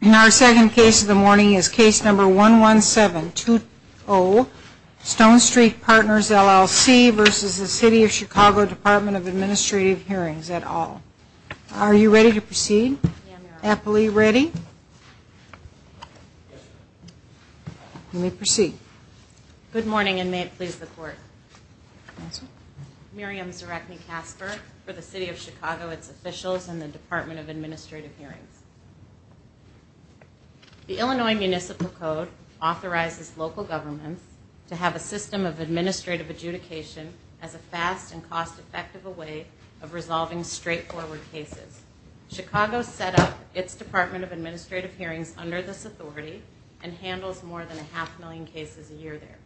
In our second case of the morning is case number 11720, Stone Street Partners, LLC v. City of Chicago Department of Administrative Hearings, et al. Are you ready to proceed? Yes, ma'am. Appley, ready? You may proceed. Good morning, and may it please the court. Yes, ma'am. I'm Miriam Zarechny-Casper for the City of Chicago, its officials, and the Department of Administrative Hearings. The Illinois Municipal Code authorizes local governments to have a system of administrative adjudication as a fast and cost-effective way of resolving straightforward cases. Chicago set up its Department of Administrative Hearings under this authority and handles more than a half million cases a year there.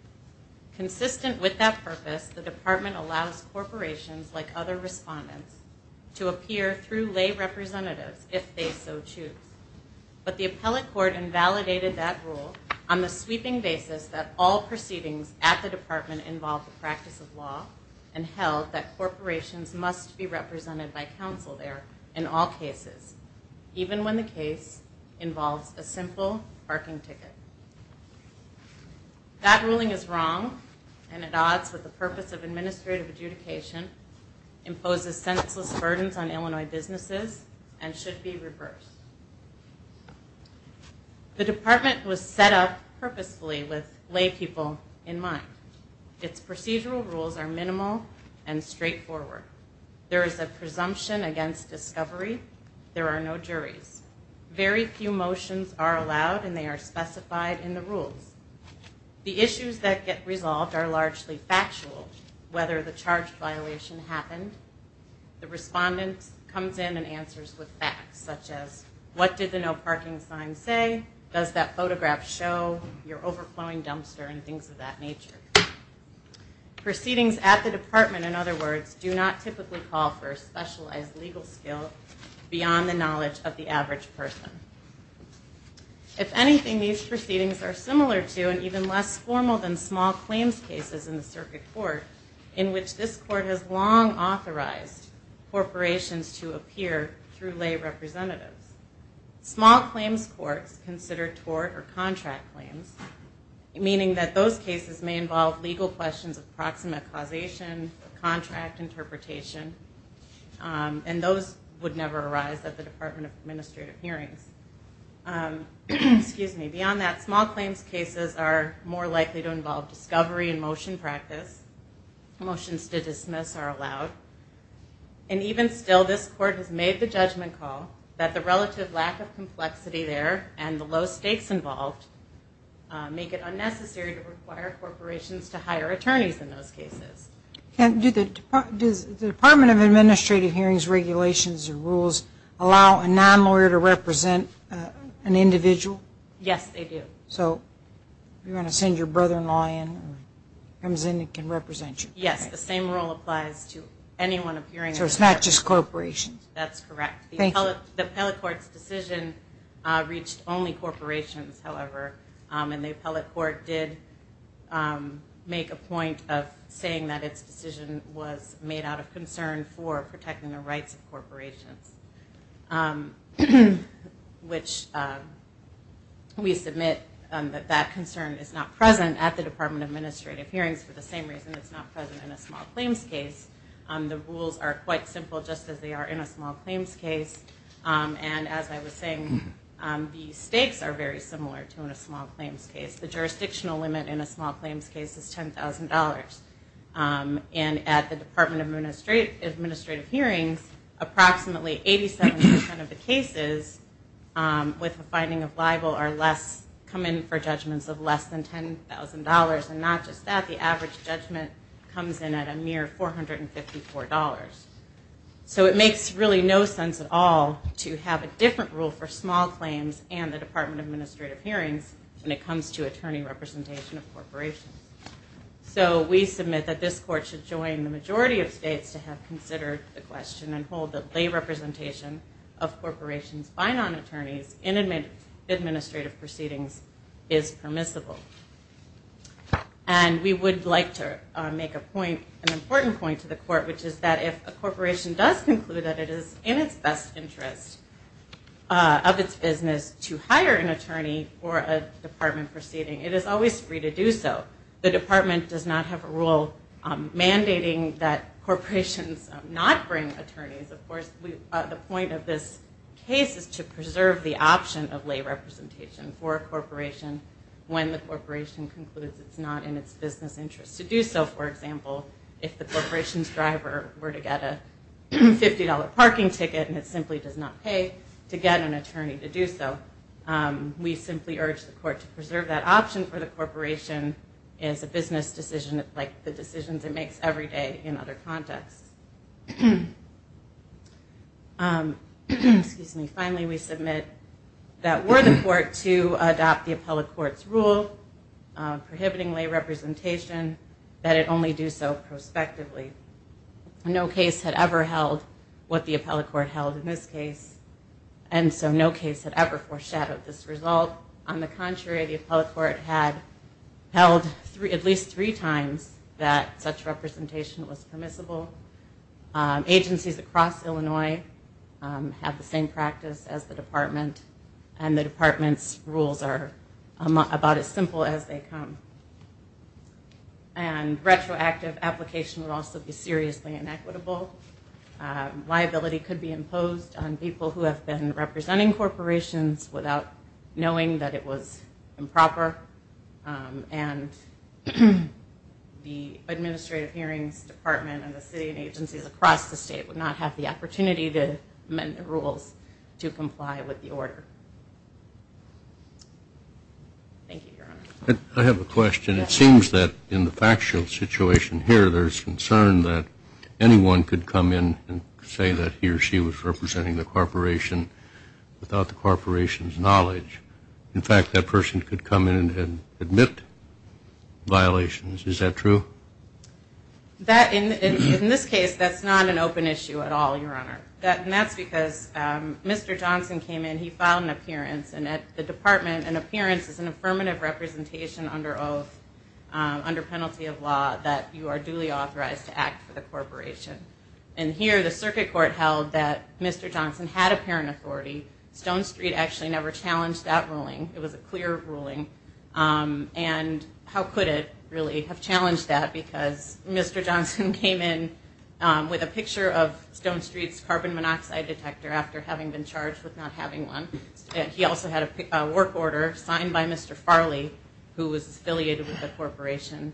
Consistent with that purpose, the department allows corporations, like other respondents, to appear through lay representatives if they so choose. But the appellate court invalidated that rule on the sweeping basis that all proceedings at the department involve the practice of law and held that corporations must be represented by counsel there in all cases, even when the case involves a simple parking ticket. That ruling is wrong and at odds with the purpose of administrative adjudication, imposes senseless burdens on Illinois businesses, and should be reversed. The department was set up purposefully with lay people in mind. Its procedural rules are minimal and straightforward. There is a presumption against discovery. There are no juries. Very few motions are allowed and they are specified in the rules. The issues that get resolved are largely factual, whether the charge violation happened. The respondent comes in and answers with facts, such as what did the no parking sign say? Does that photograph show your overflowing dumpster and things of that nature? Proceedings at the department, in other words, do not typically call for a specialized legal skill beyond the knowledge of the average person. If anything, these proceedings are similar to and even less formal than small claims cases in the circuit court, in which this court has long authorized corporations to appear through lay representatives. Small claims courts consider tort or contract claims, meaning that those cases may involve legal questions of proximate causation, contract interpretation, and those would never arise at the Department of Administrative Hearings. Beyond that, small claims cases are more likely to involve discovery and motion practice. Motions to dismiss are allowed. And even still, this court has made the judgment call that the relative lack of complexity there and the low stakes involved make it unnecessary to require corporations to hire attorneys in those cases. Does the Department of Administrative Hearings regulations or rules allow a non-lawyer to represent an individual? Yes, they do. So you want to send your brother-in-law in who comes in and can represent you? Yes, the same rule applies to anyone appearing. So it's not just corporations? That's correct. Thank you. The appellate court's decision reached only corporations, however, and the appellate court did make a point of saying that its decision was made out of concern for protecting the rights of corporations, which we submit that that concern is not present at the Department of Administrative Hearings for the same reason it's not present in a small claims case. The rules are quite simple just as they are in a small claims case. And as I was saying, the stakes are very similar to in a small claims case. The jurisdictional limit in a small claims case is $10,000. And at the Department of Administrative Hearings, approximately 87% of the cases with a finding of libel come in for judgments of less than $10,000. And not just that, the average judgment comes in at a mere $454. So it makes really no sense at all to have a different rule for small claims and the Department of Administrative Hearings when it comes to attorney representation of corporations. So we submit that this court should join the majority of states to have considered the question and hold that lay representation of corporations by non-attorneys in administrative proceedings is permissible. And we would like to make an important point to the court, which is that if a corporation does conclude that it is in its best interest of its business to hire an attorney for a department proceeding, it is always free to do so. The department does not have a rule mandating that corporations not bring attorneys. Of course, the point of this case is to preserve the option of lay representation for a corporation when the corporation concludes it's not in its business interest to do so. For example, if the corporation's driver were to get a $50 parking ticket and it simply does not pay to get an attorney to do so, we simply urge the court to preserve that option for the corporation as a business decision like the decisions it makes every day in other contexts. Finally, we submit that were the court to adopt the appellate court's rule prohibiting lay representation, that it only do so prospectively. No case had ever held what the appellate court held in this case, and so no case had ever foreshadowed this result. On the contrary, the appellate court had held at least three times that such representation was permissible. Agencies across Illinois have the same practice as the department, and the department's rules are about as simple as they come. And retroactive application would also be seriously inequitable. Liability could be imposed on people who have been representing corporations without knowing that it was improper, and the administrative hearings department and the city and agencies across the state would not have the opportunity to amend the rules to comply with the order. Thank you, Your Honor. I have a question. It seems that in the factual situation here there's concern that anyone could come in and say that he or she was representing the corporation without the corporation's knowledge. In fact, that person could come in and admit violations. Is that true? In this case, that's not an open issue at all, Your Honor. That's because Mr. Johnson came in, he filed an appearance, and at the department an appearance is an affirmative representation under penalty of law that you are duly authorized to act for the corporation. And here the circuit court held that Mr. Johnson had apparent authority. Stone Street actually never challenged that ruling. It was a clear ruling. And how could it really have challenged that? Because Mr. Johnson came in with a picture of Stone Street's carbon monoxide detector after having been charged with not having one. He also had a work order signed by Mr. Farley, who was affiliated with the corporation,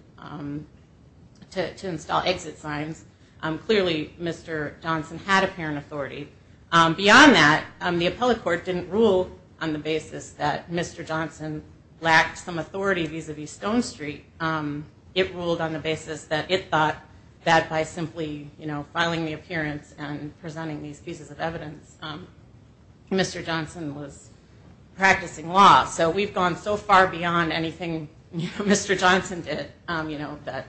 to install exit signs. Clearly, Mr. Johnson had apparent authority. Beyond that, the appellate court didn't rule on the basis that Mr. Johnson lacked some authority vis-a-vis Stone Street. It ruled on the basis that it thought that by simply filing the appearance and presenting these pieces of evidence, Mr. Johnson was practicing law. So we've gone so far beyond anything Mr. Johnson did that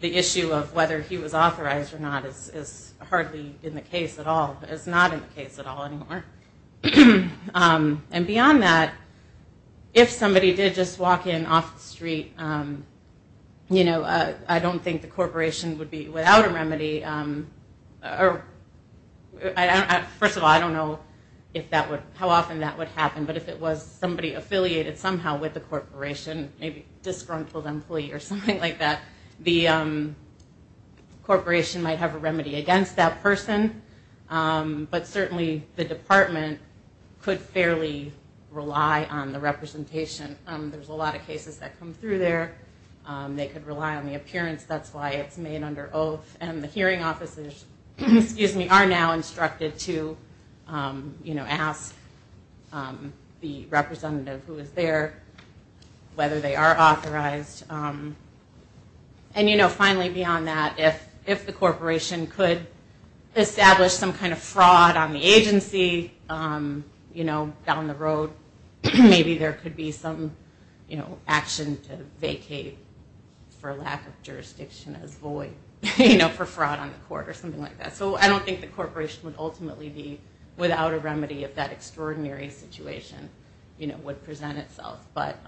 the issue of whether he was authorized or not is hardly in the case at all. It's not in the case at all anymore. And beyond that, if somebody did just walk in off the street, I don't think the corporation would be without a remedy. First of all, I don't know how often that would happen, but if it was somebody affiliated somehow with the corporation, maybe disgruntled employee or something like that, the corporation might have a remedy against that person. But certainly the department could fairly rely on the representation. There's a lot of cases that come through there. They could rely on the appearance. That's why it's made under oath. And the hearing officers are now instructed to ask the representative who is there whether they are authorized. And finally, beyond that, if the corporation could establish some kind of fraud on the agency down the road, maybe there could be some action to vacate for lack of jurisdiction as void for fraud on the court or something like that. So I don't think the corporation would ultimately be without a remedy if that extraordinary situation would present itself. But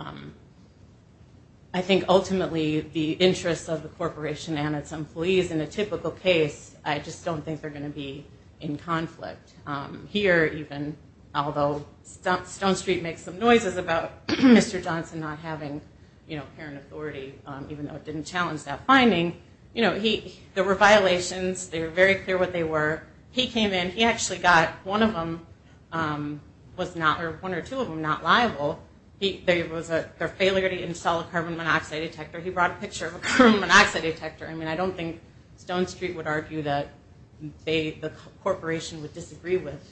I think ultimately the interests of the corporation and its employees in a typical case, I just don't think they're going to be in conflict. Here even, although Stone Street makes some noises about Mr. Johnson not having parent authority, even though it didn't challenge that finding, there were violations. They were very clear what they were. He came in. He actually got one of them was not or one or two of them not liable. There was a failure to install a carbon monoxide detector. He brought a picture of a carbon monoxide detector. I mean, I don't think Stone Street would argue that the corporation would disagree with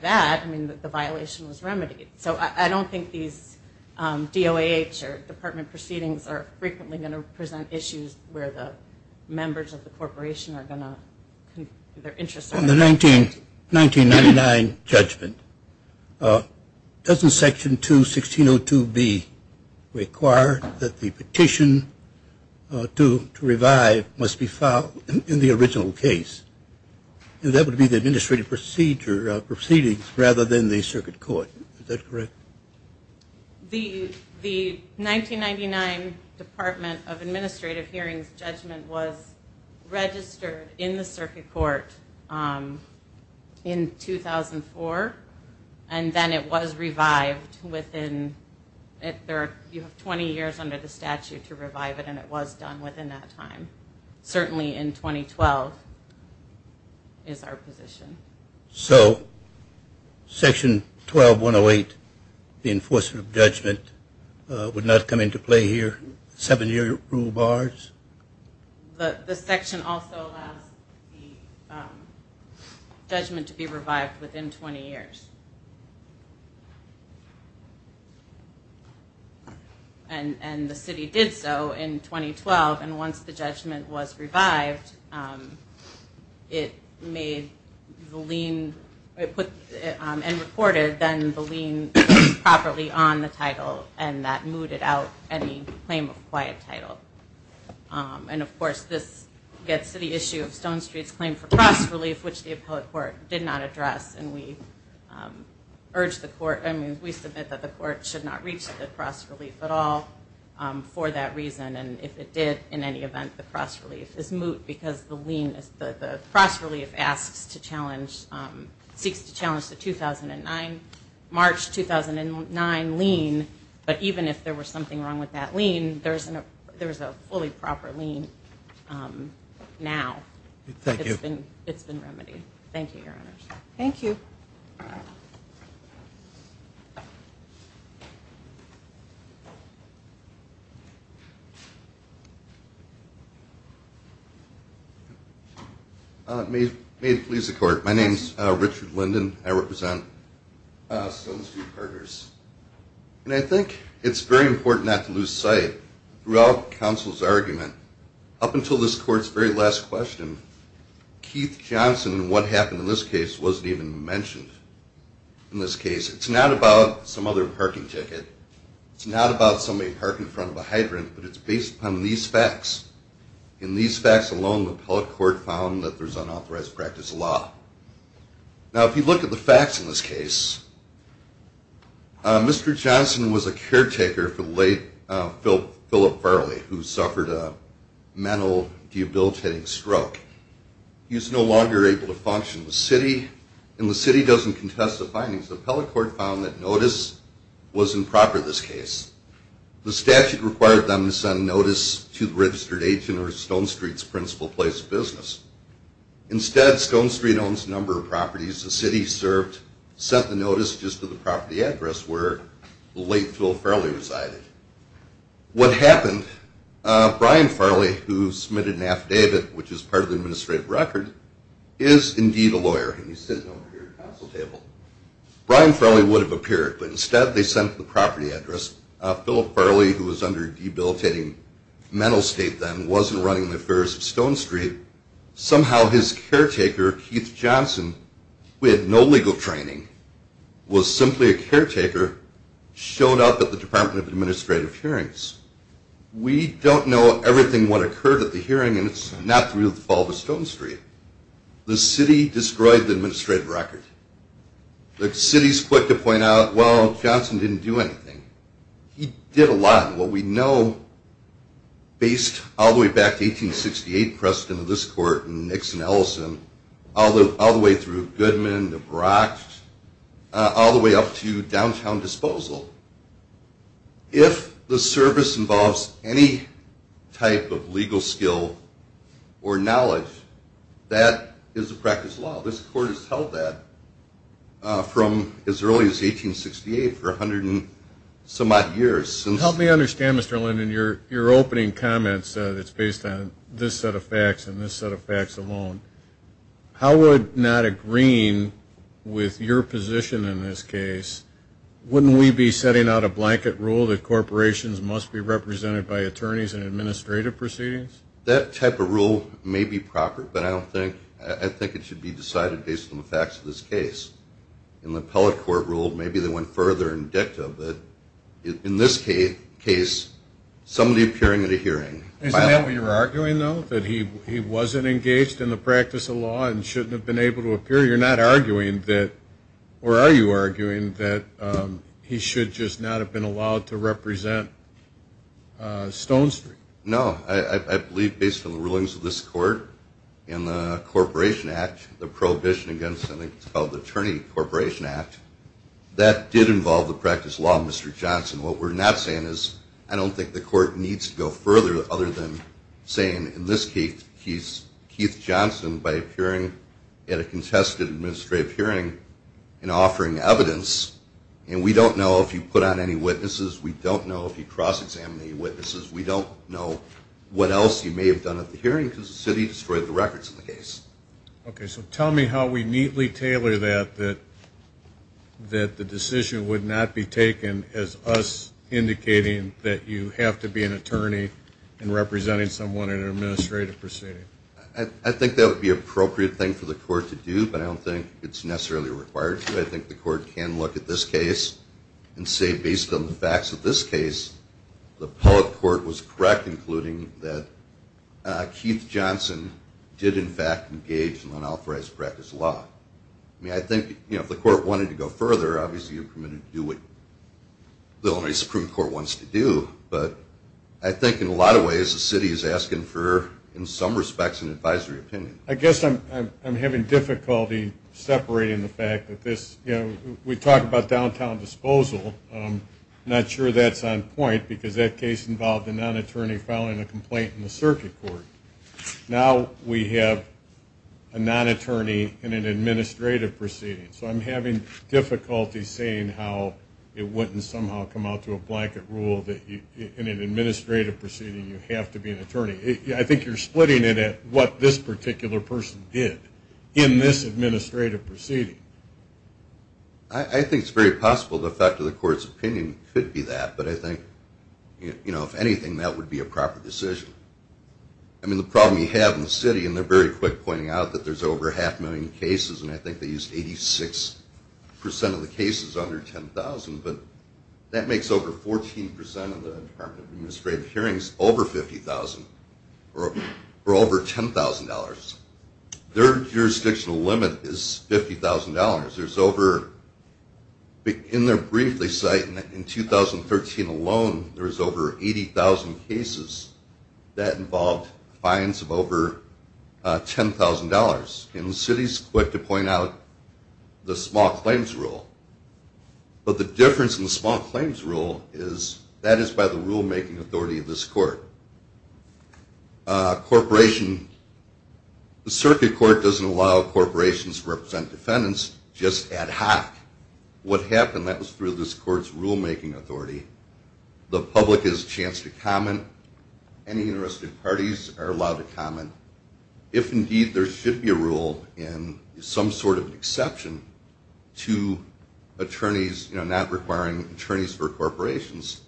that. I mean, the violation was remedied. So I don't think these DOAH or department proceedings are frequently going to present issues where the members of the corporation are going to On the 1999 judgment, doesn't Section 21602B require that the petition to revive must be filed in the original case? That would be the administrative procedure of proceedings rather than the circuit court. Is that correct? The 1999 Department of Administrative Hearings judgment was registered in the circuit court in 2004, and then it was revived within 20 years under the statute to revive it, and it was done within that time. Certainly in 2012 is our position. So Section 12108, the enforcement of judgment, would not come into play here, seven-year rule bars? The section also allows the judgment to be revived within 20 years. And the city did so in 2012, and once the judgment was revived, it made the lien and reported then the lien properly on the title, and that mooted out any claim of quiet title. And, of course, this gets to the issue of Stone Street's claim for cross relief, which the appellate court did not address, and we submit that the court should not reach the cross relief at all for that reason, and if it did in any event, the cross relief is moot because the cross relief seeks to challenge the But even if there was something wrong with that lien, there's a fully proper lien now. Thank you. It's been remedied. Thank you, Your Honors. Thank you. May it please the Court. My name is Richard Linden. I represent Stone Street Carters. And I think it's very important not to lose sight, throughout counsel's argument, up until this Court's very last question, Keith Johnson and what happened in this case wasn't even mentioned. In this case, it's not about some other parking ticket. It's not about somebody parking in front of a hydrant, but it's based upon these facts. In these facts alone, the appellate court found that there's unauthorized practice of law. Now, if you look at the facts in this case, Mr. Johnson was a caretaker for the late Philip Farley, who suffered a mental debilitating stroke. He was no longer able to function in the city, and the city doesn't contest the findings. The appellate court found that notice was improper in this case. The statute required them to send notice to the registered agent or Stone Street's principal place of business. Instead, Stone Street owns a number of properties. The city sent the notice just to the property address where the late Philip Farley resided. What happened, Brian Farley, who submitted an affidavit, which is part of the administrative record, is indeed a lawyer, and he's sitting over here at the counsel table. Brian Farley would have appeared, but instead they sent the property address. Philip Farley, who was under debilitating mental state then, wasn't running the affairs of Stone Street, somehow his caretaker, Keith Johnson, who had no legal training, was simply a caretaker, showed up at the Department of Administrative Hearings. We don't know everything what occurred at the hearing, and it's not through the fall of Stone Street. The city destroyed the administrative record. The city's quick to point out, well, Johnson didn't do anything. He did a lot. What we know, based all the way back to 1868 precedent of this court and Nixon-Ellison, all the way through Goodman, the Bronx, all the way up to downtown disposal, if the service involves any type of legal skill or knowledge, that is a practice law. This court has held that from as early as 1868 for 100-some-odd years. Help me understand, Mr. Linden, your opening comments, that's based on this set of facts and this set of facts alone. Howard, not agreeing with your position in this case, wouldn't we be setting out a blanket rule that corporations must be represented by attorneys in administrative proceedings? That type of rule may be proper, but I think it should be decided based on the facts of this case. In the appellate court rule, maybe they went further in dicta, but in this case, somebody appearing at a hearing. Isn't that what you're arguing, though, that he wasn't engaged in the practice of law and shouldn't have been able to appear? You're not arguing that, or are you arguing, that he should just not have been allowed to represent Stone Street? No. I believe based on the rulings of this court and the Corporation Act, the prohibition against something called the Attorney-Corporation Act, that did involve the practice of law in Mr. Johnson. What we're not saying is I don't think the court needs to go further other than saying in this case, Keith Johnson, by appearing at a contested administrative hearing and offering evidence, and we don't know if he put on any witnesses, we don't know if he cross-examined any witnesses, we don't know what else he may have done at the hearing because the city destroyed the records in the case. Okay. So tell me how we neatly tailor that, that the decision would not be taken as us indicating that you have to be an attorney and representing someone in an administrative proceeding. I think that would be an appropriate thing for the court to do, but I don't think it's necessarily required to. I think the court can look at this case and say based on the facts of this case, the public court was correct, including that Keith Johnson did, in fact, engage in unauthorized practice law. I mean, I think if the court wanted to go further, obviously you're permitted to do what the only Supreme Court wants to do, but I think in a lot of ways the city is asking for, in some respects, an advisory opinion. I guess I'm having difficulty separating the fact that this, you know, we talk about downtown disposal. I'm not sure that's on point because that case involved a non-attorney filing a complaint in the circuit court. Now we have a non-attorney in an administrative proceeding, so I'm having difficulty saying how it wouldn't somehow come out to a blanket rule that in an administrative proceeding you have to be an attorney. I think you're splitting it at what this particular person did in this administrative proceeding. I think it's very possible the fact of the court's opinion could be that, but I think, you know, if anything, that would be a proper decision. I mean, the problem you have in the city, and they're very quick pointing out that there's over half a million cases and I think they used 86% of the cases under $10,000, but that makes over 14% of the Department of Administrative hearings over $50,000 or over $10,000. Their jurisdictional limit is $50,000. In their brief they cite in 2013 alone there was over 80,000 cases that involved fines of over $10,000. And the city's quick to point out the small claims rule. But the difference in the small claims rule is that is by the rulemaking authority of this court. The circuit court doesn't allow corporations to represent defendants, just ad hoc. What happened, that was through this court's rulemaking authority. The public has a chance to comment. Any interested parties are allowed to comment. If, indeed, there should be a rule and some sort of exception to attorneys, you know, not requiring attorneys for corporations,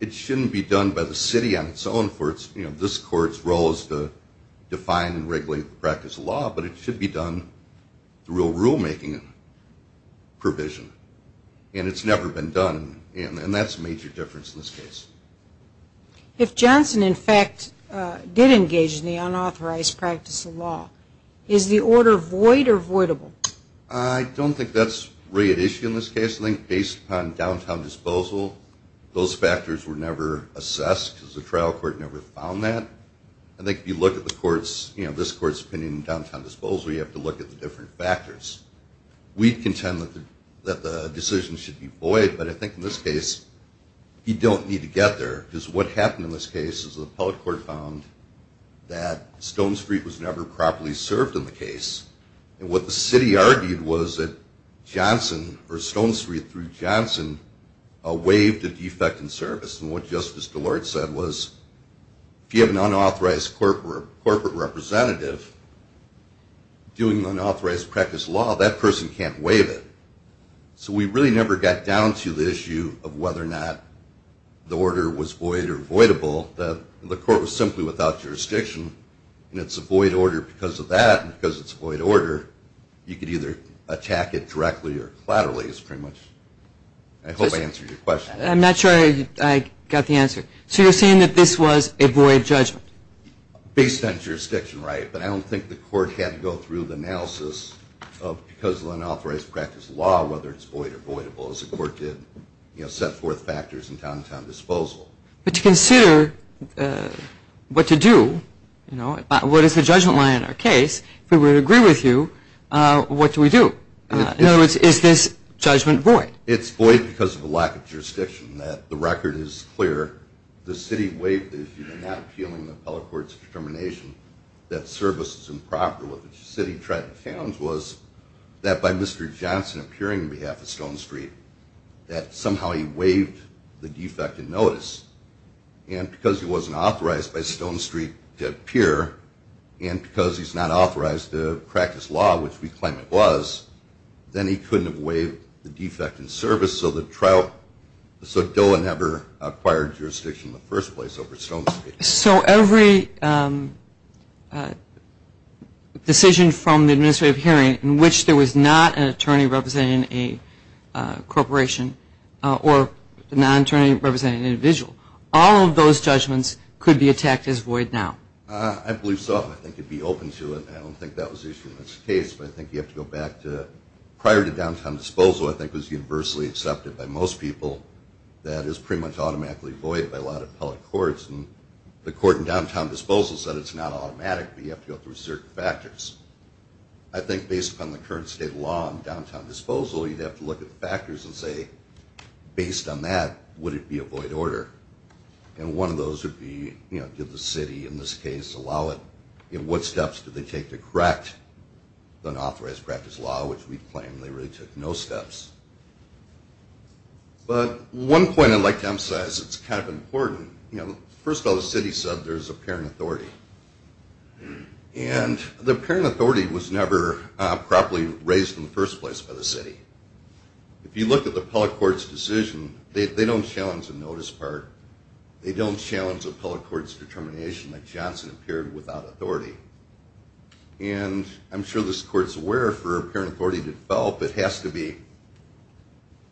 it shouldn't be done by the city on its own for, you know, this court's role is to define and regulate the practice of law, but it should be done through a rulemaking provision. And it's never been done, and that's a major difference in this case. If Johnson, in fact, did engage in the unauthorized practice of law, is the order void or voidable? I don't think that's really an issue in this case. I think based upon downtown disposal those factors were never assessed because the trial court never found that. I think if you look at the court's, you know, this court's opinion in downtown disposal, you have to look at the different factors. We contend that the decision should be void, but I think in this case you don't need to get there because what happened in this case is the appellate court found that Stone Street was never properly served in the case. And what the city argued was that Johnson, or Stone Street through Johnson, waived a defect in service. And what Justice DeLorte said was if you have an unauthorized corporate representative doing unauthorized practice of law, that person can't waive it. So we really never got down to the issue of whether or not the order was void or voidable. The court was simply without jurisdiction, and it's a void order because of that, and because it's a void order, you could either attack it directly or collaterally is pretty much, I hope I answered your question. I'm not sure I got the answer. So you're saying that this was a void judgment? Based on jurisdiction, right. But I don't think the court had to go through the analysis of because of unauthorized practice of law, whether it's void or voidable, as the court did, you know, set forth factors in downtown disposal. But to consider what to do, you know, what is the judgment line in our case, if we would agree with you, what do we do? In other words, is this judgment void? It's void because of a lack of jurisdiction, that the record is clear. The city waived it if you're not appealing the appellate court's determination that service is improper. What the city tried and found was that by Mr. Johnson appearing on behalf of Stone Street, that somehow he waived the defect in notice. And because he wasn't authorized by Stone Street to appear, and because he's not authorized to practice law, which we claim it was, then he couldn't have waived the defect in service. So the trial, so DOA never acquired jurisdiction in the first place over Stone Street. So every decision from the administrative hearing in which there was not an attorney representing a corporation or a non-attorney representing an individual, all of those judgments could be attacked as void now? I believe so. I think you'd be open to it. I don't think that was the issue in this case. But I think you have to go back to prior to downtown disposal, I think it was universally accepted by most people that it was pretty much automatically void by a lot of appellate courts. And the court in downtown disposal said it's not automatic, but you have to go through certain factors. I think based upon the current state law in downtown disposal, you'd have to look at the factors and say, based on that, would it be a void order? And one of those would be, you know, did the city in this case allow it? You know, what steps did they take to correct unauthorized practice law, which we claim they really took no steps. But one point I'd like to emphasize that's kind of important, you know, first of all, the city said there's apparent authority. And the apparent authority was never properly raised in the first place by the city. If you look at the appellate court's decision, they don't challenge the notice part. They don't challenge appellate court's determination that Johnson appeared without authority. And I'm sure this court's aware for apparent authority to develop, it has to be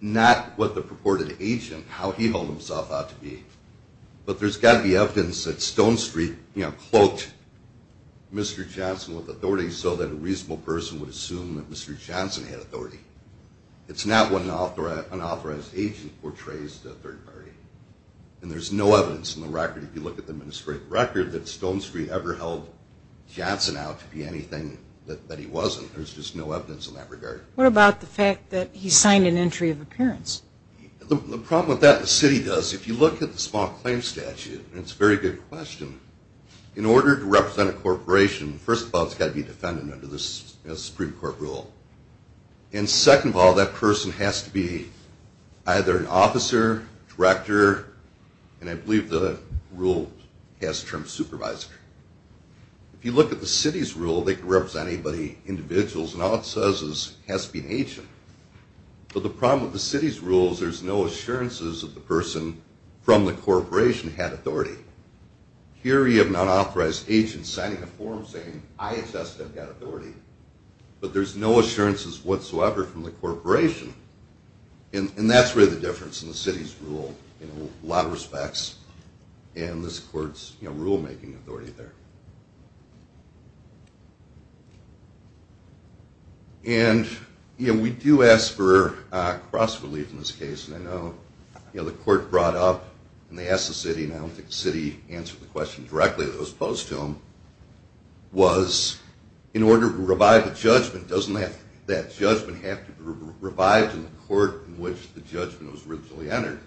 not what the purported agent, how he held himself out to be. But there's got to be evidence that Stone Street, you know, cloaked Mr. Johnson with authority so that a reasonable person would assume that Mr. Johnson had authority. It's not what an unauthorized agent portrays to a third party. And there's no evidence in the record, if you look at the administrative record, that Stone Street ever held Johnson out to be anything that he wasn't. There's just no evidence in that regard. What about the fact that he signed an entry of appearance? The problem with that, the city does. If you look at the small claim statute, and it's a very good question, in order to represent a corporation, first of all, it's got to be a defendant under the Supreme Court rule. And second of all, that person has to be either an officer, director, and I believe the rule has the term supervisor. If you look at the city's rule, they can represent anybody, individuals, and all it says is it has to be an agent. But the problem with the city's rule is there's no assurances that the person from the corporation had authority. Here you have an unauthorized agent signing a form saying, I assess that I've got authority, but there's no assurances whatsoever from the corporation. And that's really the difference in the city's rule in a lot of respects and this court's rule-making authority there. And we do ask for cross-relief in this case. And I know the court brought up, and they asked the city, and I don't think the city answered the question directly that was posed to them, was in order to revive a judgment, doesn't that judgment have to be revived in the court in which the judgment was originally entered?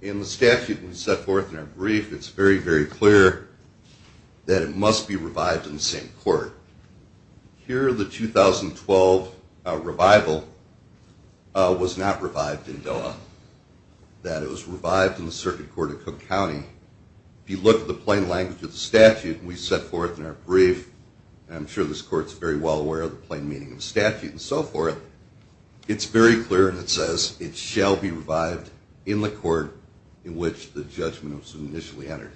In the statute we set forth in our brief, it's very, very clear that it must be revived in the same court. Here the 2012 revival was not revived in Doha, that it was revived in the circuit court of Cook County. If you look at the plain language of the statute we set forth in our brief, and I'm sure this court's very well aware of the plain meaning of the statute and so forth, it's very clear, and it says, it shall be revived in the court in which the judgment was initially entered.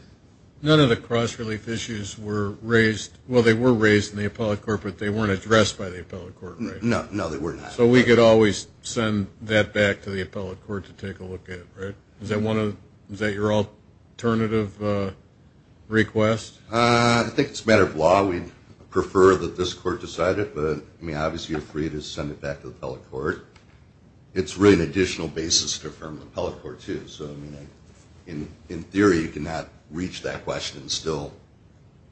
None of the cross-relief issues were raised, well they were raised in the appellate court, but they weren't addressed by the appellate court, right? No, no, they were not. So we could always send that back to the appellate court to take a look at it, right? Is that your alternative request? I think it's a matter of law. We'd prefer that this court decide it, but I mean obviously you're free to send it back to the appellate court. It's really an additional basis to affirm the appellate court too, so I mean in theory you cannot reach that question and still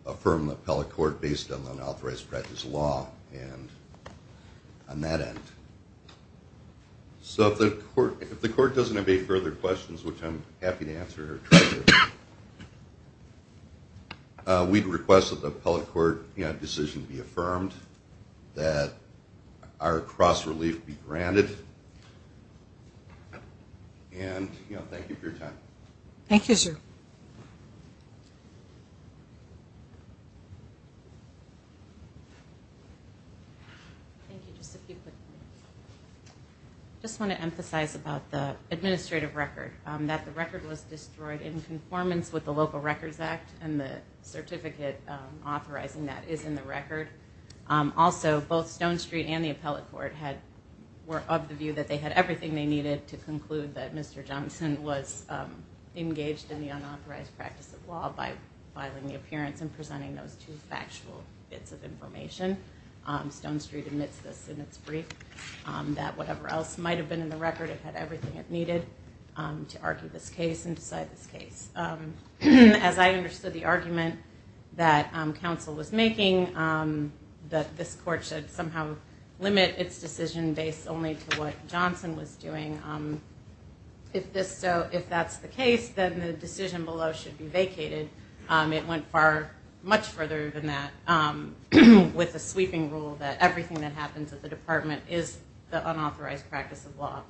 affirm the appellate court based on unauthorized practice law and on that end. So if the court doesn't have any further questions, which I'm happy to answer or try to, we'd request that the appellate court decision be affirmed, that our cross-relief be granted, and thank you for your time. Thank you, sir. I just want to emphasize about the administrative record, that the record was destroyed in conformance with the Local Records Act and the certificate authorizing that is in the record. Also, both Stone Street and the appellate court were of the view that they had everything they needed to conclude that Mr. Johnson was engaged in the unauthorized practice of law by filing the appearance and presenting those two factual bits of information. Stone Street admits this in its brief, that whatever else might have been in the record, as I understood the argument that counsel was making, that this court should somehow limit its decision based only to what Johnson was doing. If that's the case, then the decision below should be vacated. It went far, much further than that, with a sweeping rule that everything that happens at the department is the unauthorized practice of law.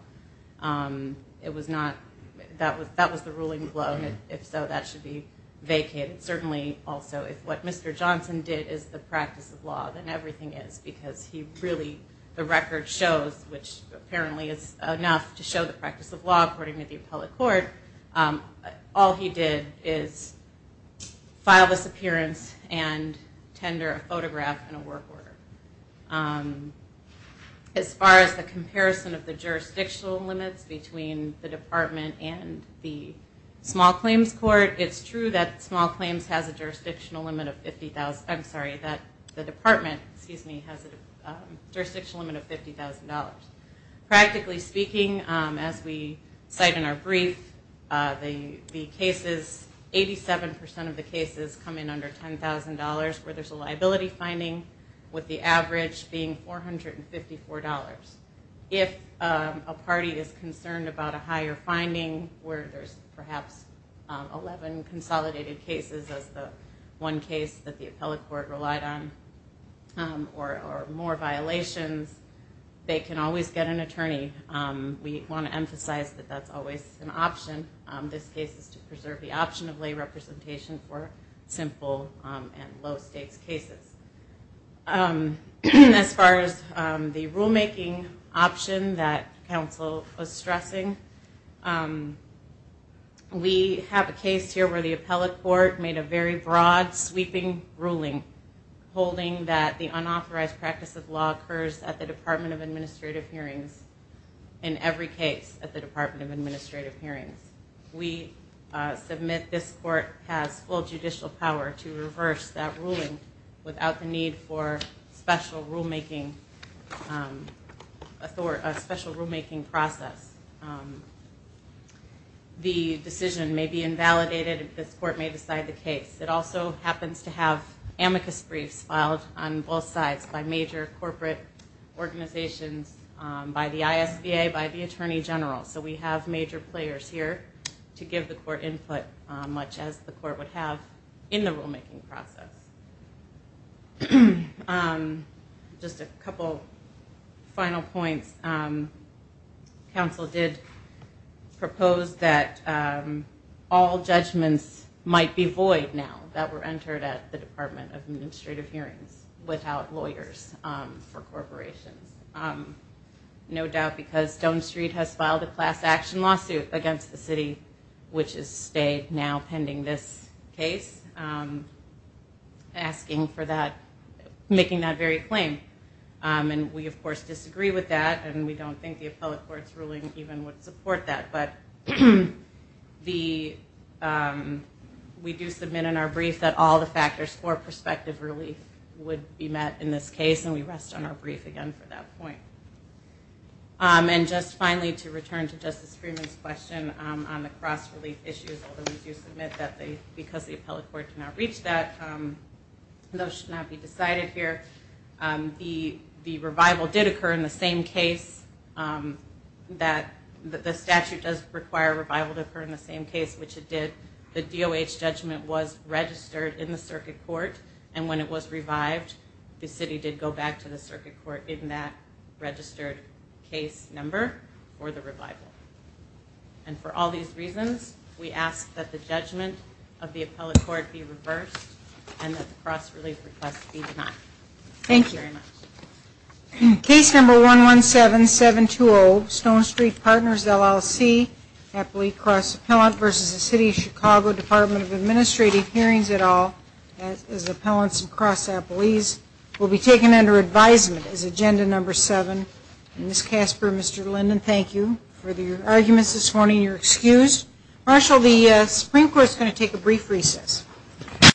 That was the ruling below, and if so, that should be vacated. Certainly, also, if what Mr. Johnson did is the practice of law, then everything is, because he really, the record shows, which apparently is enough to show the practice of law, according to the appellate court, all he did is file this appearance and tender a photograph and a work order. As far as the comparison of the jurisdictional limits between the department and the small claims court, it's true that small claims has a jurisdictional limit of 50,000, I'm sorry, that the department, excuse me, has a jurisdictional limit of $50,000. Practically speaking, as we cite in our brief, the cases, 87% of the cases come in under $10,000, where there's a liability finding, with the average being $454. If a party is concerned about a higher finding, where there's perhaps 11 consolidated cases, as the one case that the appellate court relied on, or more violations, they can always get an attorney. We want to emphasize that that's always an option. This case is to preserve the option of lay representation for simple and low-stakes cases. As far as the rulemaking option that counsel was stressing, we have a case here where the appellate court made a very broad, sweeping ruling, holding that the unauthorized practice of law occurs at the Department of Administrative Hearings, in every case at the Department of Administrative Hearings. We submit this court has full judicial power to reverse that ruling without the need for special rulemaking process. The decision may be invalidated if this court may decide the case. It also happens to have amicus briefs filed on both sides by major corporate organizations, by the ISBA, by the Attorney General. So we have major players here to give the court input, much as the court would have in the rulemaking process. Just a couple final points. Counsel did propose that all judgments might be void now, that were entered at the Department of Administrative Hearings, without lawyers for corporations. No doubt, because Stone Street has filed a class-action lawsuit against the city, which has stayed now pending this case, asking for that, making that very claim. And we, of course, disagree with that, and we don't think the appellate court's ruling even would support that. But we do submit in our brief that all the factors for prospective relief would be met in this case, and we rest on our brief again for that point. And just finally, to return to Justice Freeman's question on the cross-relief issues, although we do submit that because the appellate court did not reach that, those should not be decided here. The revival did occur in the same case. The statute does require a revival to occur in the same case, which it did. The DOH judgment was registered in the circuit court, and when it was revived, the city did go back to the circuit court in that registered case number for the revival. And for all these reasons, we ask that the judgment of the appellate court be reversed and that the cross-relief request be denied. Thank you very much. Case number 117720, Stone Street Partners, LLC, appellate cross-appellant versus the City of Chicago, Department of Administrative Hearings, et al., as appellants and cross-appellees, will be taken under advisement as agenda number 7. Ms. Casper, Mr. Linden, thank you for your arguments this morning. You're excused. Marshal, the Supreme Court is going to take a brief recess.